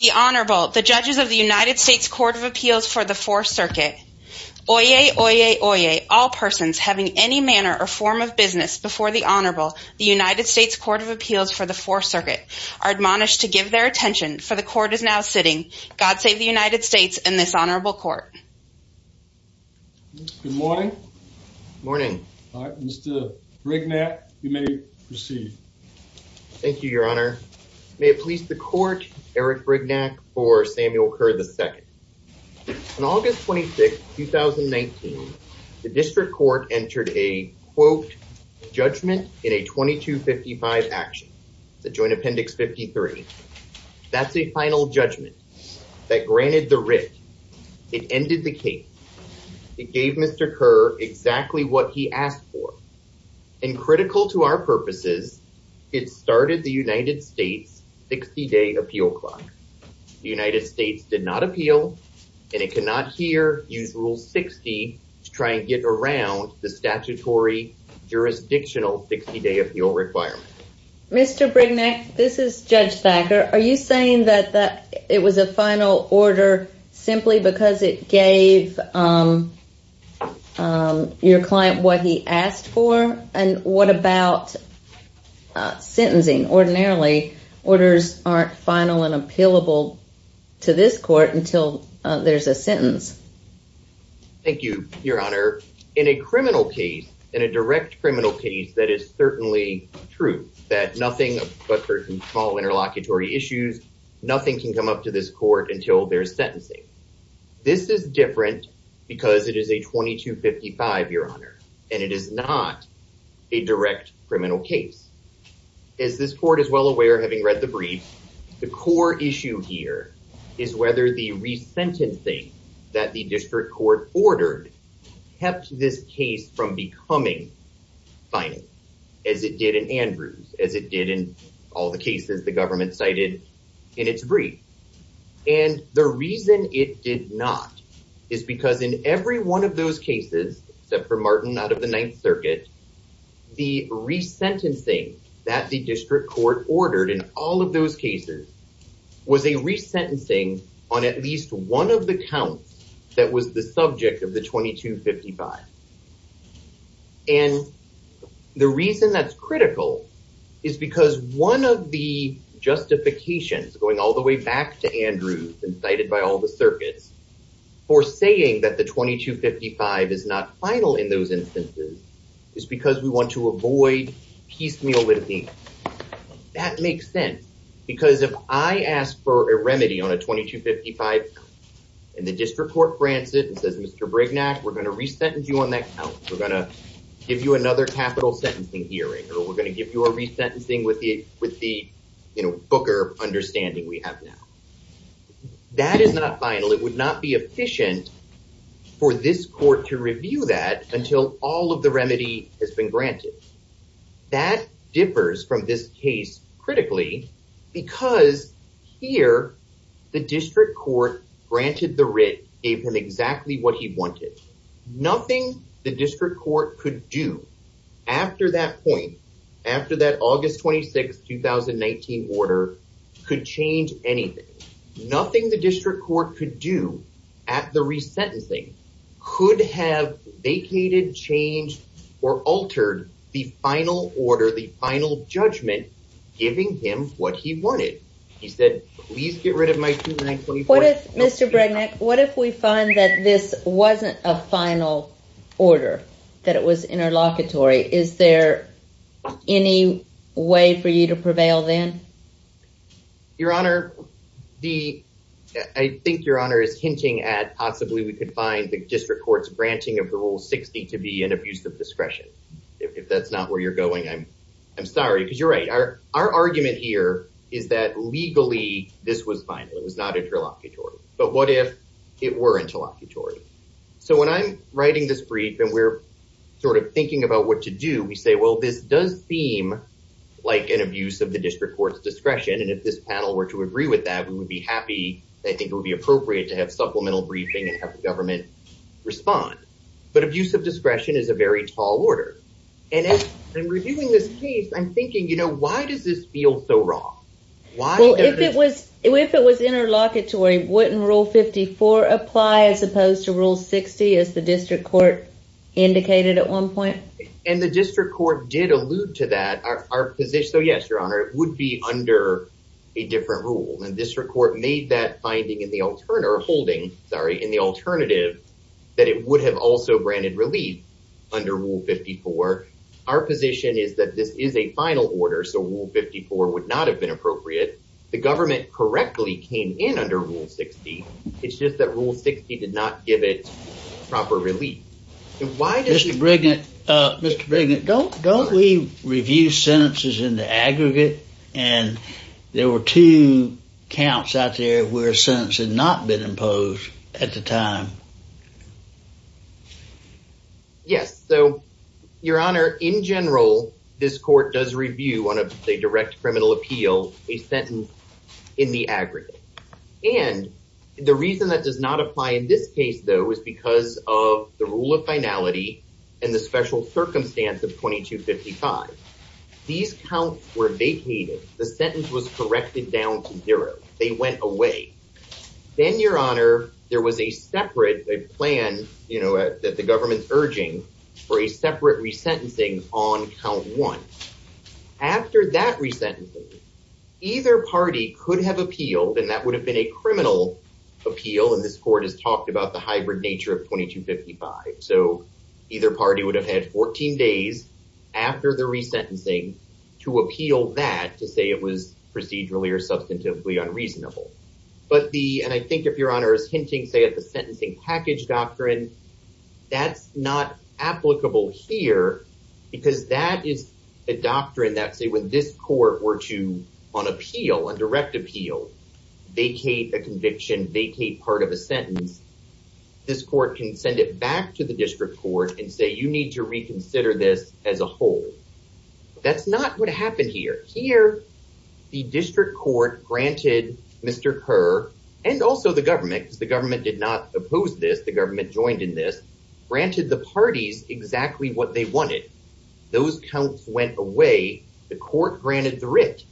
The Honorable, the judges of the United States Court of Appeals for the Fourth Circuit. Oyez, oyez, oyez, all persons having any manner or form of business before the Honorable, the United States Court of Appeals for the Fourth Circuit, are admonished to give their attention, for the Court is now sitting. God save the United States and this Honorable Court. Good morning. Morning. Mr. Brignac, you may proceed. Thank you, Your Honor. May it please the Court, Eric Brignac for Samuel Kerr, II. On August 26, 2019, the District Court entered a, quote, judgment in a 2255 action, the Joint Appendix 53. That's a final judgment that granted the writ. It ended the case. It gave Mr. Kerr exactly what he asked for. And critical to our purposes, it started the United States 60-day appeal clock. The United States did not appeal, and it cannot here use Rule 60 to try and get around the statutory jurisdictional 60-day appeal requirement. Mr. Brignac, this is Judge Thacker. Are you saying that it was a final order simply because it gave your client what he asked for? And what about sentencing? Ordinarily, orders aren't final and appealable to this Court until there's a sentence. Thank you, Your Honor. In a criminal case, in a direct criminal case, that is certainly true, that nothing but for small interlocutory issues, nothing can come up to this Court until there's sentencing. This is different because it is a 2255, Your Honor, and it is not a direct criminal case. As this Court is well aware, having read the brief, the core issue here is whether the as it did in all the cases the government cited in its brief. And the reason it did not is because in every one of those cases, except for Martin out of the Ninth Circuit, the resentencing that the District Court ordered in all of those cases was a resentencing on at least one of the counts that was the subject of the 2255. And the reason that's critical is because one of the justifications, going all the way back to Andrews and cited by all the circuits, for saying that the 2255 is not final in those instances is because we want to avoid piecemeal Mr. Brignac, we're going to resentence you on that count. We're going to give you another capital sentencing hearing, or we're going to give you a resentencing with the booker understanding we have now. That is not final. It would not be efficient for this Court to review that until all of the remedy has been granted. That differs from this case critically because here the District Court granted the writ, gave him exactly what he wanted. Nothing the District Court could do after that point, after that August 26, 2019 order, could change anything. Nothing the District Court could do at the resentencing could have vacated, changed, or altered the final order, the final judgment, giving him what he wanted. He said, please get rid of my 2924. What if, Mr. Brignac, what if we find that this wasn't a final order, that it was interlocutory? Is there any way for you to prevail then? Your Honor, the, I think Your Honor is hinting at possibly we could find the District Court's Rule 60 to be an abuse of discretion. If that's not where you're going, I'm sorry, because you're right. Our argument here is that legally this was final. It was not interlocutory. But what if it were interlocutory? So when I'm writing this brief and we're sort of thinking about what to do, we say, well, this does seem like an abuse of the District Court's discretion. And if this panel were to agree with that, we would be happy, I think it would be appropriate to have supplemental briefing and have the government respond. But abuse of discretion is a very tall order. And as I'm reviewing this case, I'm thinking, you know, why does this feel so wrong? Well, if it was, if it was interlocutory, wouldn't Rule 54 apply as opposed to Rule 60, as the District Court indicated at one point? And the District Court did allude to that. Our position, so yes, Your Honor, it would be under a different rule. And the District Court made that finding in the alternative that it would have also granted relief under Rule 54. Our position is that this is a final order, so Rule 54 would not have been appropriate. The government correctly came in under Rule 60. It's just that Rule 60 did not give it proper relief. Mr. Brigant, don't we review sentences in the aggregate? And there were two counts out there where a sentence had not been imposed at the time. Yes. So, Your Honor, in general, this court does review on a direct criminal appeal, a sentence in the aggregate. And the reason that does not apply in this case, though, is because of the rule of finality and the special circumstance of 2255. These counts were vacated, the sentence was corrected down to zero, they went away. Then, Your Honor, there was a separate plan, you know, that the government's urging for a separate resentencing on count one. After that resentencing, either party could have appealed, and that would have been a criminal appeal, and this court has talked about the hybrid nature of 2255. So either party would have had 14 days after the resentencing to appeal that, to say it was procedurally or substantively unreasonable. But the, and I think if Your Honor is hinting, say, at the sentencing package doctrine, that's not applicable here because that is a doctrine that, say, when this court were to, on appeal, on direct appeal, vacate a conviction, vacate part of a sentence, this court can send it back to the district court and say, need to reconsider this as a whole. That's not what happened here. Here, the district court granted Mr. Kerr, and also the government, because the government did not oppose this, the government joined in this, granted the parties exactly what they wanted. Those counts went away, the court granted the writ,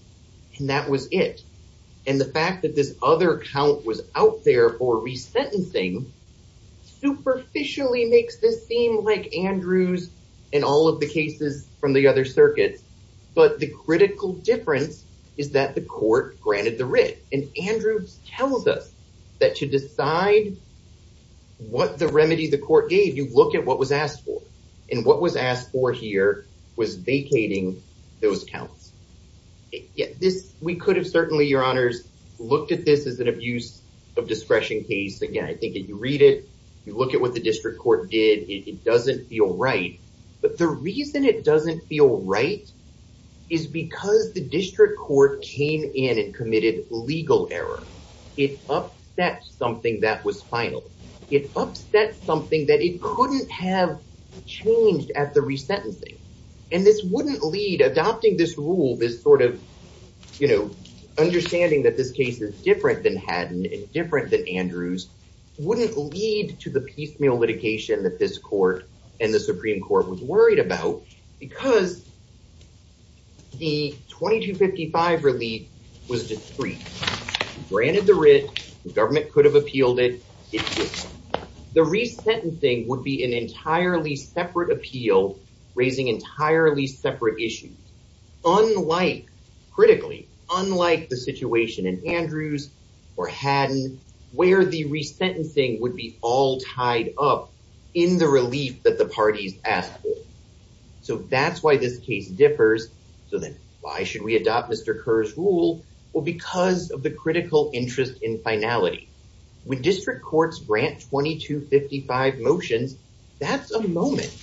and that was it. And the fact that this other count was out there for in all of the cases from the other circuits, but the critical difference is that the court granted the writ, and Andrews tells us that to decide what the remedy the court gave, you look at what was asked for, and what was asked for here was vacating those counts. Yet this, we could have certainly, Your Honors, looked at this as an abuse of discretion case. Again, I think if you read it, look at what the district court did, it doesn't feel right. But the reason it doesn't feel right is because the district court came in and committed legal error. It upset something that was final. It upset something that it couldn't have changed at the resentencing. And this wouldn't lead, adopting this rule, this sort of, you know, understanding that this case is different than the piecemeal litigation that this court and the Supreme Court was worried about, because the 2255 relief was discrete. Granted the writ, the government could have appealed it, the resentencing would be an entirely separate appeal, raising entirely separate issues. Unlike, critically, unlike the situation in Andrews or Haddon, where the resentencing would be all tied up in the relief that the parties asked for. So that's why this case differs. So then, why should we adopt Mr. Kerr's rule? Well, because of the critical interest in finality. When district courts grant 2255 motions, that's a moment.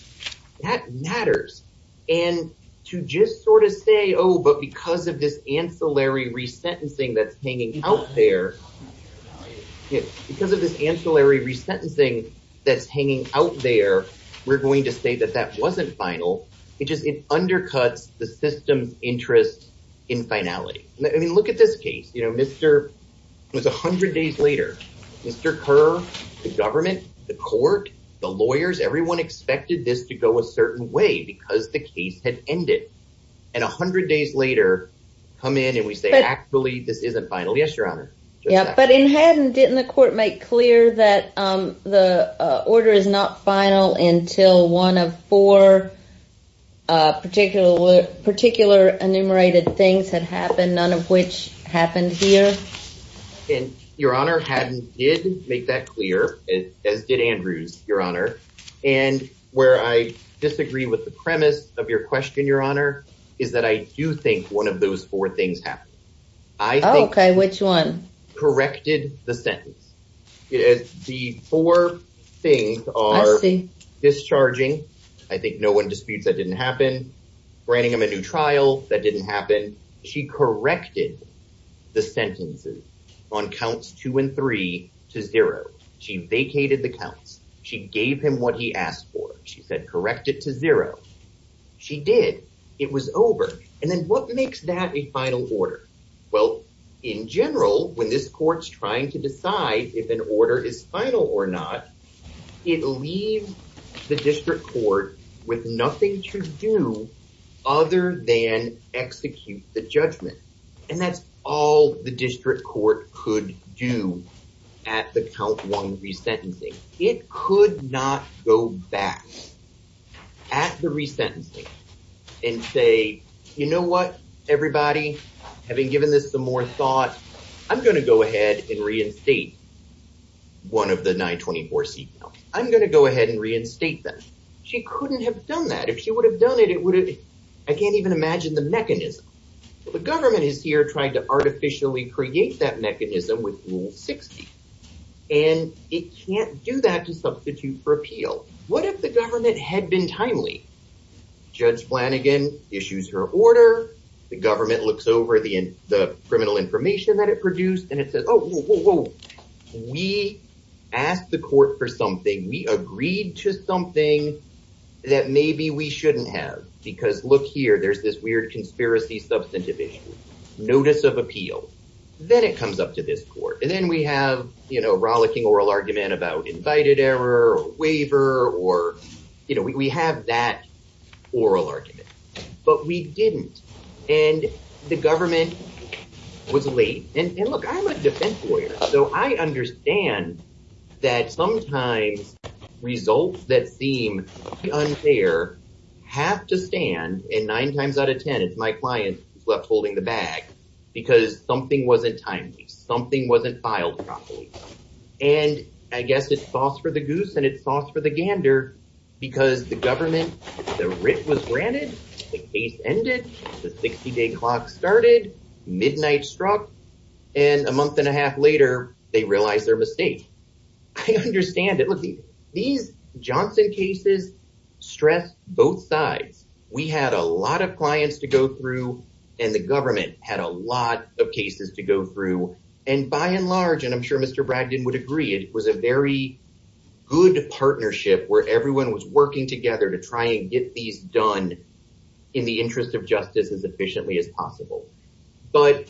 That matters. And to just sort of say, oh, but because of this ancillary resentencing that's hanging out there, we're going to say that that wasn't final. It just, it undercuts the system's interest in finality. I mean, look at this case, you know, Mr. It was 100 days later, Mr. Kerr, the government, the court, the lawyers, everyone expected this to go a certain way because the case had ended. And 100 days later, come in and we say, actually, this isn't final. Yes, Your Honor. Yeah, but in Haddon, didn't the court make clear that the order is not final until one of four particular, particular enumerated things had happened, none of which happened here? And Your Honor, Haddon did make that clear, as did Andrews, Your Honor. And where I disagree with the premise of your question, Your Honor, is that I do think one of those four things happened. Okay, which one? Corrected the sentence. The four things are discharging. I think no one disputes that didn't happen. Granting him a new trial that didn't happen. She corrected the sentences on counts two and three to zero. She vacated the counts. She gave him what he asked for. She said, it was over. And then what makes that a final order? Well, in general, when this court's trying to decide if an order is final or not, it leaves the district court with nothing to do other than execute the judgment. And that's all the district court could do at the count one resentencing. It could not go back at the resentencing and say, you know what, everybody, having given this some more thought, I'm going to go ahead and reinstate one of the 924 seat counts. I'm going to go ahead and reinstate them. She couldn't have done that. If she would have done it, it would have, I can't even imagine the mechanism. The government is here trying to artificially create that mechanism with Rule 60. And it can't do that to substitute for appeal. What if the government had been timely? Judge Flanagan issues her order. The government looks over the criminal information that it produced. And it says, oh, we asked the court for something. We agreed to something that maybe we shouldn't have. Because look here, there's this weird substantive issue, notice of appeal. Then it comes up to this court. And then we have, you know, rollicking oral argument about invited error or waiver or, you know, we have that oral argument. But we didn't. And the government was late. And look, I'm a defense lawyer. So I left holding the bag because something wasn't timely. Something wasn't filed properly. And I guess it's sauce for the goose and it's sauce for the gander because the government, the writ was granted, the case ended, the 60-day clock started, midnight struck, and a month and a half later, they realized their mistake. I understand it. Look, these Johnson cases stress both sides. We had a lot of clients to go through and the government had a lot of cases to go through. And by and large, and I'm sure Mr. Bragdon would agree, it was a very good partnership where everyone was working together to try and get these done in the interest of justice as efficiently as possible. But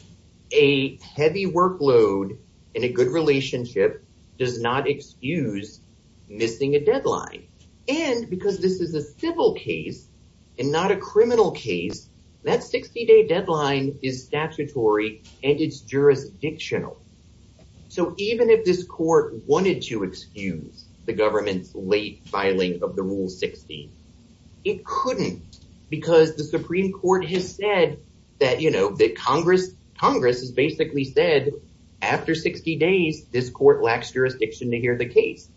a heavy workload and a good relationship does not excuse missing a deadline. And because this is a civil case and not a criminal case, that 60-day deadline is statutory and it's jurisdictional. So even if this court wanted to excuse the government's late filing of the Rule 16, it couldn't because the Supreme Court has said that Congress has basically said, after 60 days, this court lacks jurisdiction to hear the case.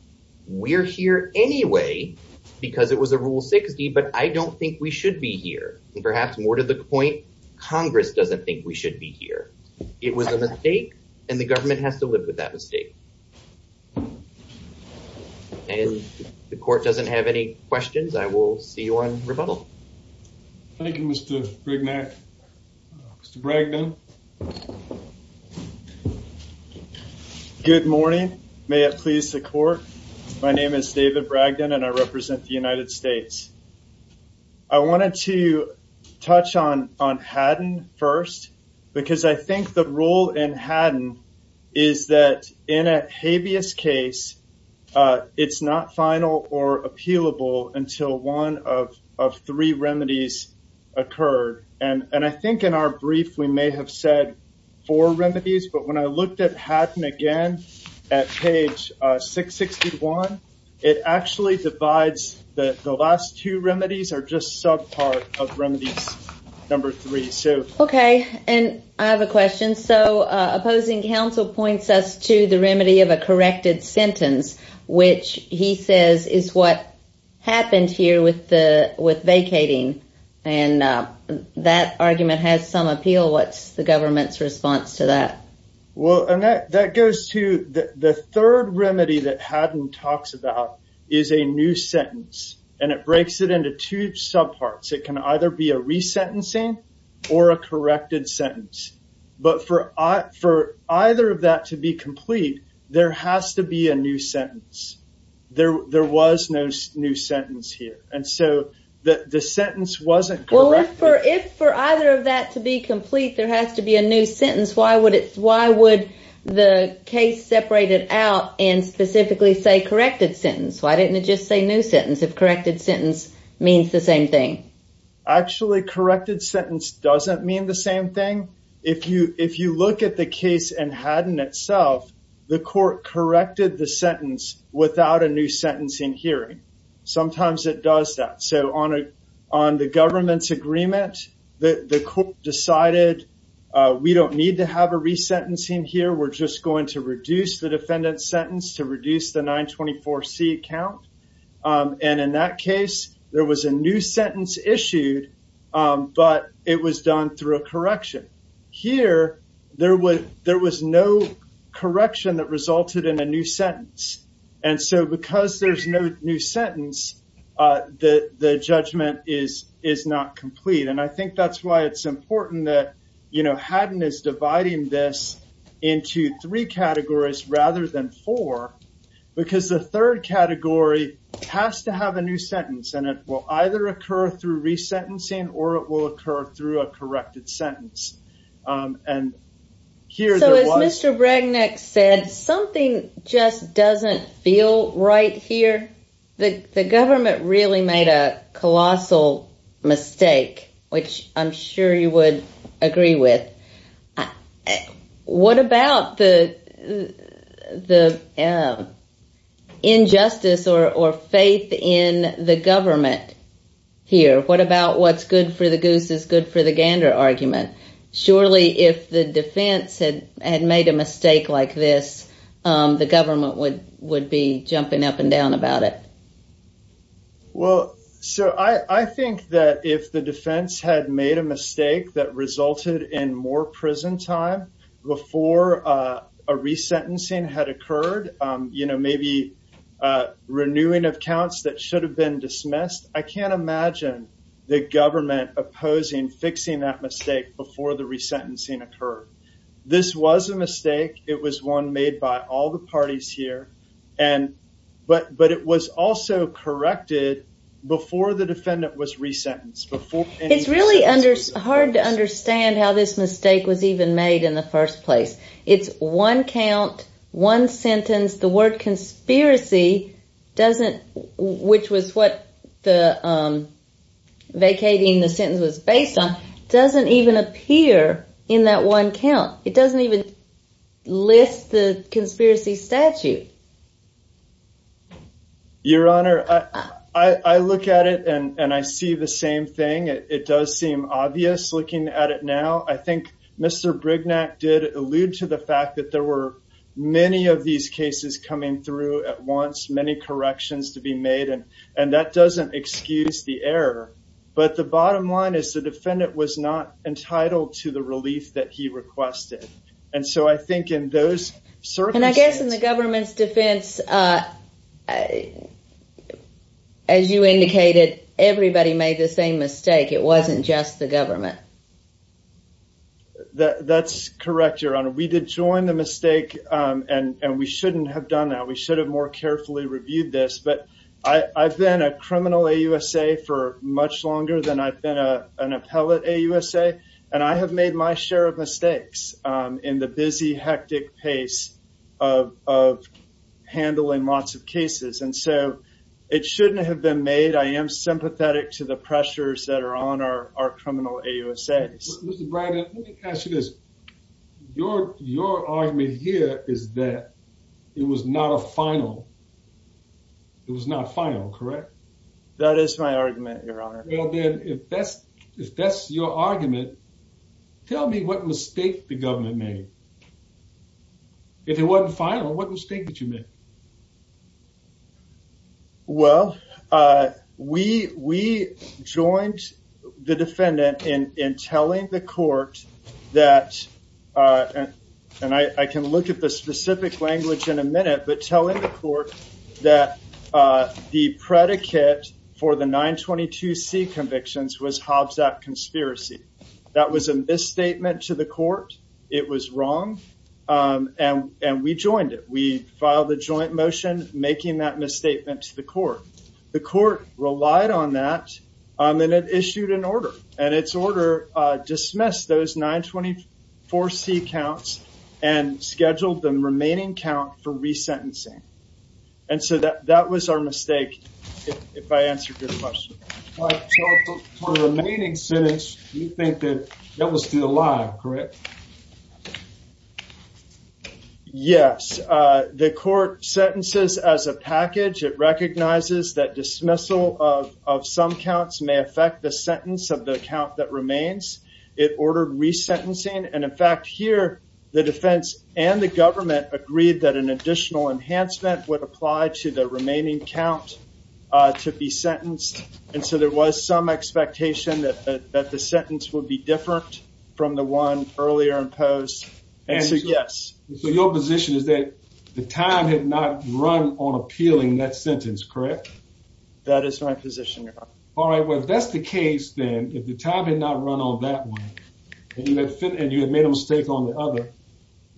We're here anyway because it was a Rule 60, but I don't think we should be here. And perhaps more to the point, Congress doesn't think we should be here. It was a mistake and the government has to live with that mistake. And if the court doesn't have any questions, I will see you on rebuttal. Thank you, Mr. Brignac. Mr. Bragdon. Good morning. May it please the court. My name is David Bragdon and I represent the United States. I wanted to touch on Haddon first because I think the role in Haddon is that in a habeas case, it's not final or appealable until one of three remedies occurred. And I think in our brief, we may have said four remedies, but when I looked at Haddon again at page 661, it actually divides the last two remedies are just subpart of remedies number three. So. And I have a question. So opposing counsel points us to the remedy of a corrected sentence, which he says is what happened here with vacating. And that argument has some appeal. What's the government's response to that? Well, that goes to the third remedy that Haddon talks about is a new sentence and it breaks it into two subparts. It can either be a resentencing or a corrected sentence. But for for either of that to be complete, there has to be a new sentence. There there was no new sentence here. And so the sentence wasn't correct. For if for either of that to be complete, there has to be a new sentence. Why would it why would the case separated out and specifically say corrected sentence? Why didn't it just say if corrected sentence means the same thing? Actually, corrected sentence doesn't mean the same thing. If you if you look at the case and Haddon itself, the court corrected the sentence without a new sentencing hearing. Sometimes it does that. So on a on the government's agreement, the court decided we don't need to have a resentencing here. We're just going to reduce the defendant's sentence to reduce the 924C count. And in that case, there was a new sentence issued, but it was done through a correction here. There was no correction that resulted in a new sentence. And so because there's no new sentence, the judgment is is not complete. And I think rather than four, because the third category has to have a new sentence, and it will either occur through resentencing, or it will occur through a corrected sentence. And here's Mr. Bragnick said something just doesn't feel right here. The government really made a colossal which I'm sure you would agree with. What about the the injustice or faith in the government here? What about what's good for the goose is good for the gander argument? Surely if the defense had had made a mistake like this, the government would be jumping up and down about it. Well, so I think that if the defense had made a mistake that resulted in more prison time, before a resentencing had occurred, you know, maybe renewing of counts that should have been dismissed, I can't imagine the government opposing fixing that mistake before the resentencing occurred. This was a mistake. It was one made by all the parties here. And but but it was also corrected before the defendant was resentenced. It's really under hard to understand how this mistake was even made in the first place. It's one count, one sentence, the word conspiracy doesn't, which was what the vacating the sentence was based on doesn't even appear in that one count. It doesn't even list the conspiracy statute. Your Honor, I look at it and I see the same thing. It does seem obvious looking at it now. I think Mr. Brignac did allude to the fact that there were many of these cases coming through at once, many corrections to be made. And and that doesn't excuse the error. But the bottom line is the defendant was not entitled to the relief that he requested. And so I think in those circumstances... And I guess in the government's defense, as you indicated, everybody made the same mistake. It wasn't just the government. That's correct, Your Honor. We did join the mistake. And we shouldn't have done that. We should have more carefully reviewed this. But I've been a criminal AUSA for much longer than I've been an appellate AUSA. And I have made my share of mistakes in the busy, hectic pace of handling lots of cases. And so it shouldn't have been made. I am sympathetic to the pressures that are on our criminal AUSAs. Mr. Brignac, let me ask you this. Your argument here is that it was not a final. It was not final, correct? That is my argument, Your Honor. Well then, if that's your argument, tell me what mistake the government made. If it wasn't final, what mistake did you make? Well, we joined the defendant in telling the court that... And I can look at the specific language in a minute, but telling the court that the predicate for the 922C convictions was Hobbs Act conspiracy. That was a misstatement to the court. It was wrong. And we joined it. We filed a joint motion making that misstatement to the court. The court relied on that. And it dismissed those 924C counts and scheduled the remaining count for resentencing. And so that was our mistake, if I answered your question. For the remaining sentence, you think that that was still alive, correct? Yes. The court sentences as a package. It recognizes that dismissal of some counts may affect the sentence of the count that remains. It ordered resentencing. And in fact, here, the defense and the government agreed that an additional enhancement would apply to the remaining count to be sentenced. And so there was some expectation that the sentence would be different from the one earlier imposed. And so, yes. So your position is that the time had not run on appealing that sentence, correct? That is my position, Your Honor. All right. Well, if that's the case, then, if the time had not run on that one, and you had made a mistake on the other,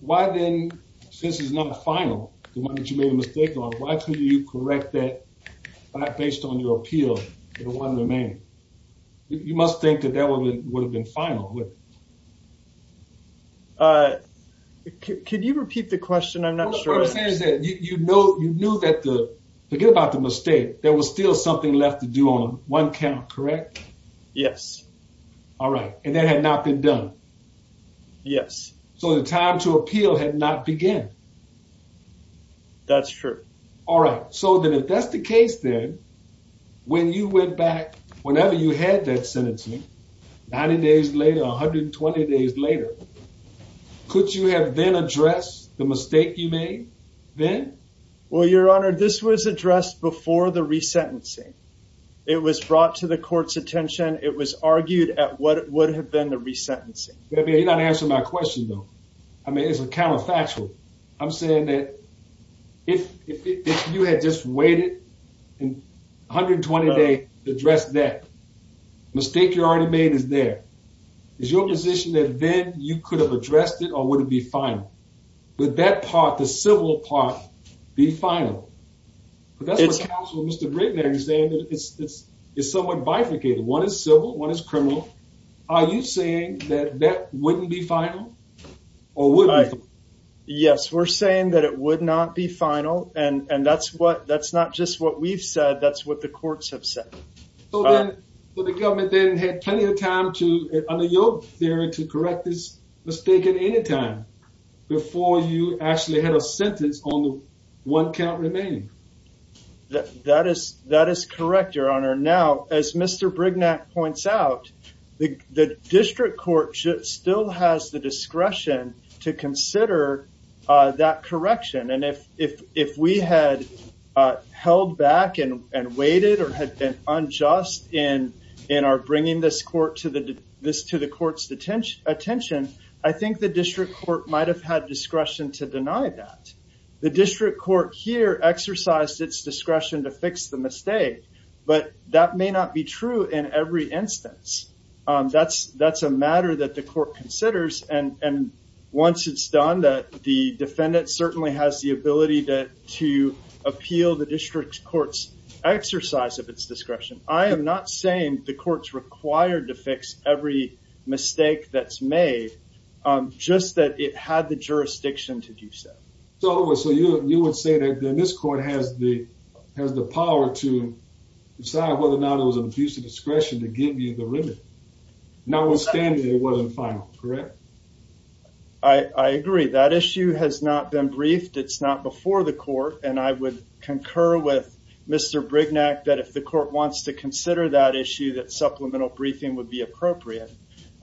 why then, since it's not final, the one that you made a mistake on, why couldn't you correct that based on your appeal for the one remaining? You must think that that would have been final. Could you repeat the question? I'm not sure. You know, you knew that the, forget about the mistake, there was still something left to do on one count, correct? Yes. All right. And that had not been done? Yes. So the time to appeal had not begun? That's true. All right. So then, if that's the case, then, when you went back, whenever you had that sentencing, 90 days later, 120 days later, could you have then addressed the mistake you made then? Well, Your Honor, this was addressed before the resentencing. It was brought to the court's attention. It was argued at what would have been the resentencing. You're not answering my question, though. I mean, it's a counterfactual. I'm saying that if you had just waited 120 days to address that, the mistake you already made is there. Is your position that then you could have addressed it or would it be final? Would that part, the civil part, be final? But that's what counts with Mr. Britton there. He's saying that it's somewhat bifurcated. One is civil, one is criminal. Are you saying that that wouldn't be final or would it? Yes, we're saying that it would not be final. And that's not just what we've said, that's what the courts have said. So then, the government then had plenty of time to, under your theory, to correct this mistake at any time before you actually had a sentence on what can't remain? That is correct, Your Honor. Now, as Mr. Brignac points out, the district court still has the discretion to consider that correction. And if we had held back and waited or had been unjust in our bringing this to the court's attention, I think the district court might have had discretion to deny that. The district court here exercised its discretion to fix the mistake, but that may not be true in every instance. That's a matter that the court considers, and once it's done, the defendant certainly has the ability to appeal the district court's exercise of its discretion. I am not saying the court's required to fix every mistake that's made, just that it had the jurisdiction to do so. So you would say that this court has the power to decide whether or not it was an abuse of notwithstanding it wasn't final, correct? I agree. That issue has not been briefed. It's not before the court, and I would concur with Mr. Brignac that if the court wants to consider that issue, that supplemental briefing would be appropriate.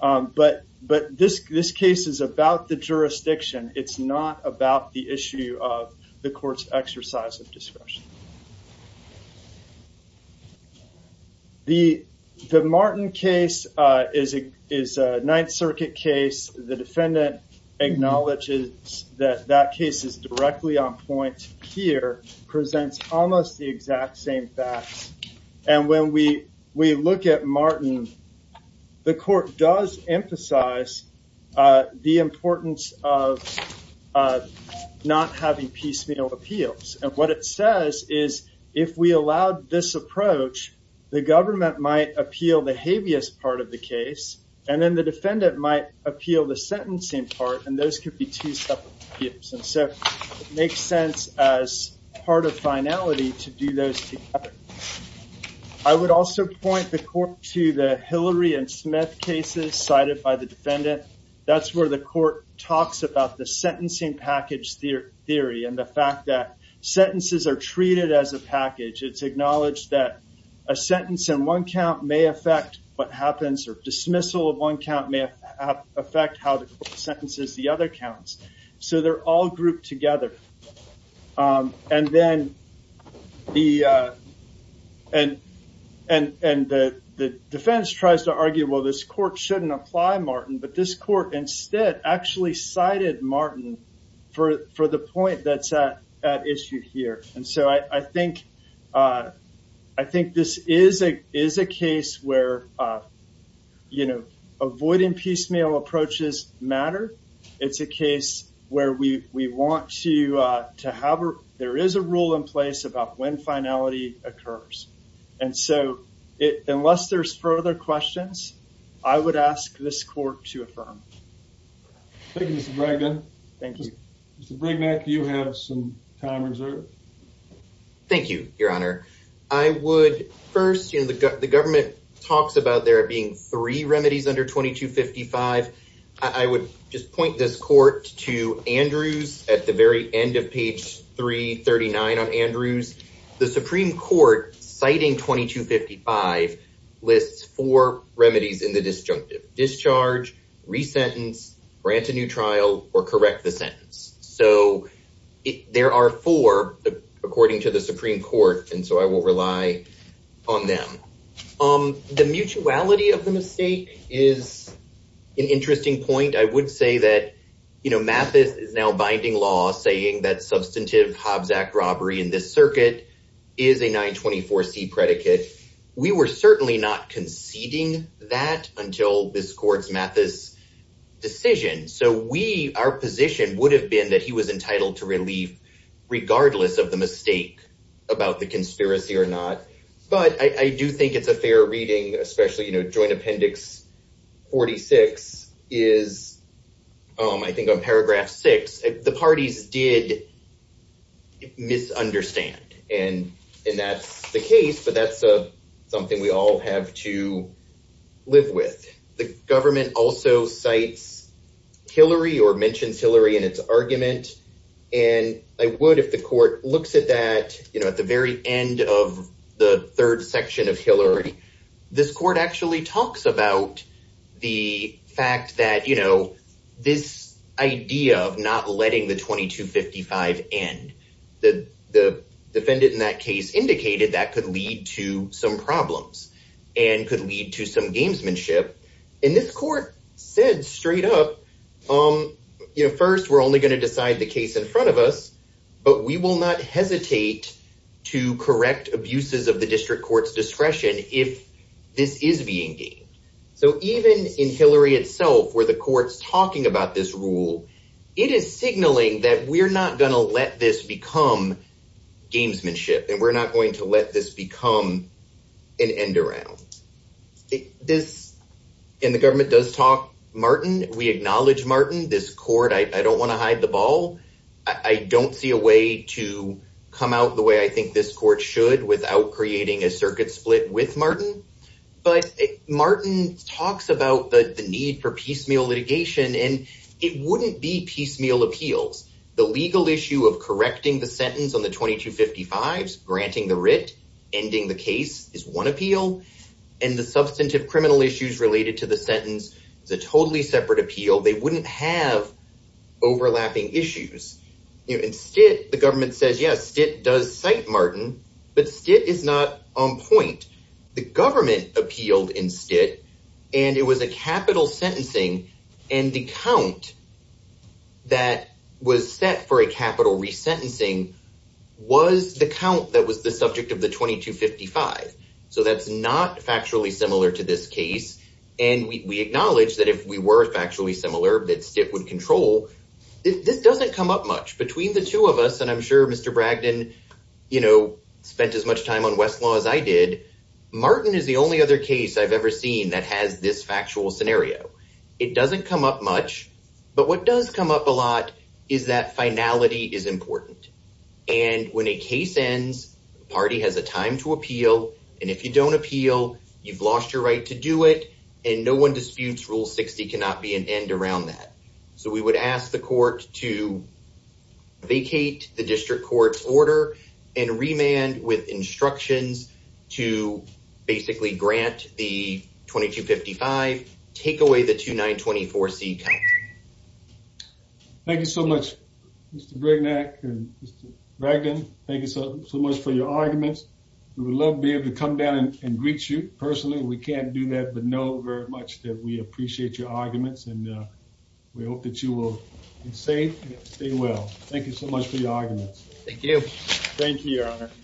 But this case is about the jurisdiction. It's not about the issue of the court's exercise of discretion. The Martin case is a Ninth Circuit case. The defendant acknowledges that that case is directly on point here, presents almost the exact same facts, and when we look at Martin, the court does emphasize the importance of not having piecemeal appeals. And what it says is, if we allowed this approach, the government might appeal the habeas part of the case, and then the defendant might appeal the sentencing part, and those could be two separate appeals. And so it makes sense as part of finality to do those together. I would also point the court to the Hillary and Smith cases cited by the defendant. That's where the court talks about the sentencing package theory and the fact that sentences are treated as a package. It's acknowledged that a sentence in one count may affect what happens, or dismissal of one count may affect how the court sentences the other counts. So they're all grouped together. And then the defense tries to argue, well, this court shouldn't apply Martin, but this court instead actually cited Martin for the point that's at issue here. And so I think this is a case where avoiding piecemeal approaches matter. It's a case where there is a rule in place about when finality occurs. And so unless there's further questions, I would ask this court to affirm. Thank you, Mr. Bregman. Mr. Bregman, you have some time reserved. Thank you, Your Honor. I would first, you know, the government talks about there being three remedies under 2255. I would just point this court to Andrews at the very end of page 339 on Andrews. The Supreme Court citing 2255 lists four remedies in the disjunctive discharge, resentence, grant a new trial, or correct the sentence. So there are four, according to the Supreme Court, and so I will rely on them. The mutuality of the mistake is an interesting point. I would say that, you know, Mathis is now binding law saying that substantive Hobbs Act robbery in the circuit is a 924c predicate. We were certainly not conceding that until this court's Mathis decision. So we, our position would have been that he was entitled to relief regardless of the mistake about the conspiracy or not. But I do think it's a fair reading, especially, you know, appendix 46 is, I think on paragraph six, the parties did misunderstand. And that's the case, but that's something we all have to live with. The government also cites Hillary or mentions Hillary in its argument. And I would, if the court looks at that, you know, at the very end of the about the fact that, you know, this idea of not letting the 2255 end, the defendant in that case indicated that could lead to some problems and could lead to some gamesmanship. And this court said straight up, you know, first, we're only going to decide the case in front of us, but we will not hesitate to correct abuses of the district court's discretion if this is being so even in Hillary itself, where the court's talking about this rule, it is signaling that we're not going to let this become gamesmanship. And we're not going to let this become an end around this. And the government does talk, Martin, we acknowledge Martin, this court, I don't want to hide the ball. I don't see a way to come out the way I think this court should without creating a circuit split with Martin. But Martin talks about the need for piecemeal litigation. And it wouldn't be piecemeal appeals, the legal issue of correcting the sentence on the 2255, granting the writ, ending the case is one appeal. And the substantive criminal issues related to the sentence is a totally separate appeal, they wouldn't have overlapping issues. Instead, the government says yes, it does cite Martin, but it is not on point. The government appealed instead. And it was a capital sentencing. And the count that was set for a capital resentencing was the count that was the subject of the 2255. So that's not factually similar to this case. And we acknowledge that if we were factually similar, that stick would control. This doesn't come up much between the two of us. And I'm sure Mr. Bragdon, you know, spent as much time on Westlaw as I did. Martin is the only other case I've ever seen that has this factual scenario. It doesn't come up much. But what does come up a lot is that finality is important. And when a case ends, party has a time to appeal. And if you don't appeal, you've lost your right to do it. And no one disputes rule 60 cannot be an end around that. So we would ask the court to vacate the district court's order and remand with instructions to basically grant the 2255, take away the 2924C count. Thank you so much, Mr. Brignac and Mr. Bragdon. Thank you so much for your arguments. We would love to be able to come down and greet you personally. We can't do that, but know very that we appreciate your arguments and we hope that you will be safe and stay well. Thank you so much for your arguments. Thank you. Thank you, your honor.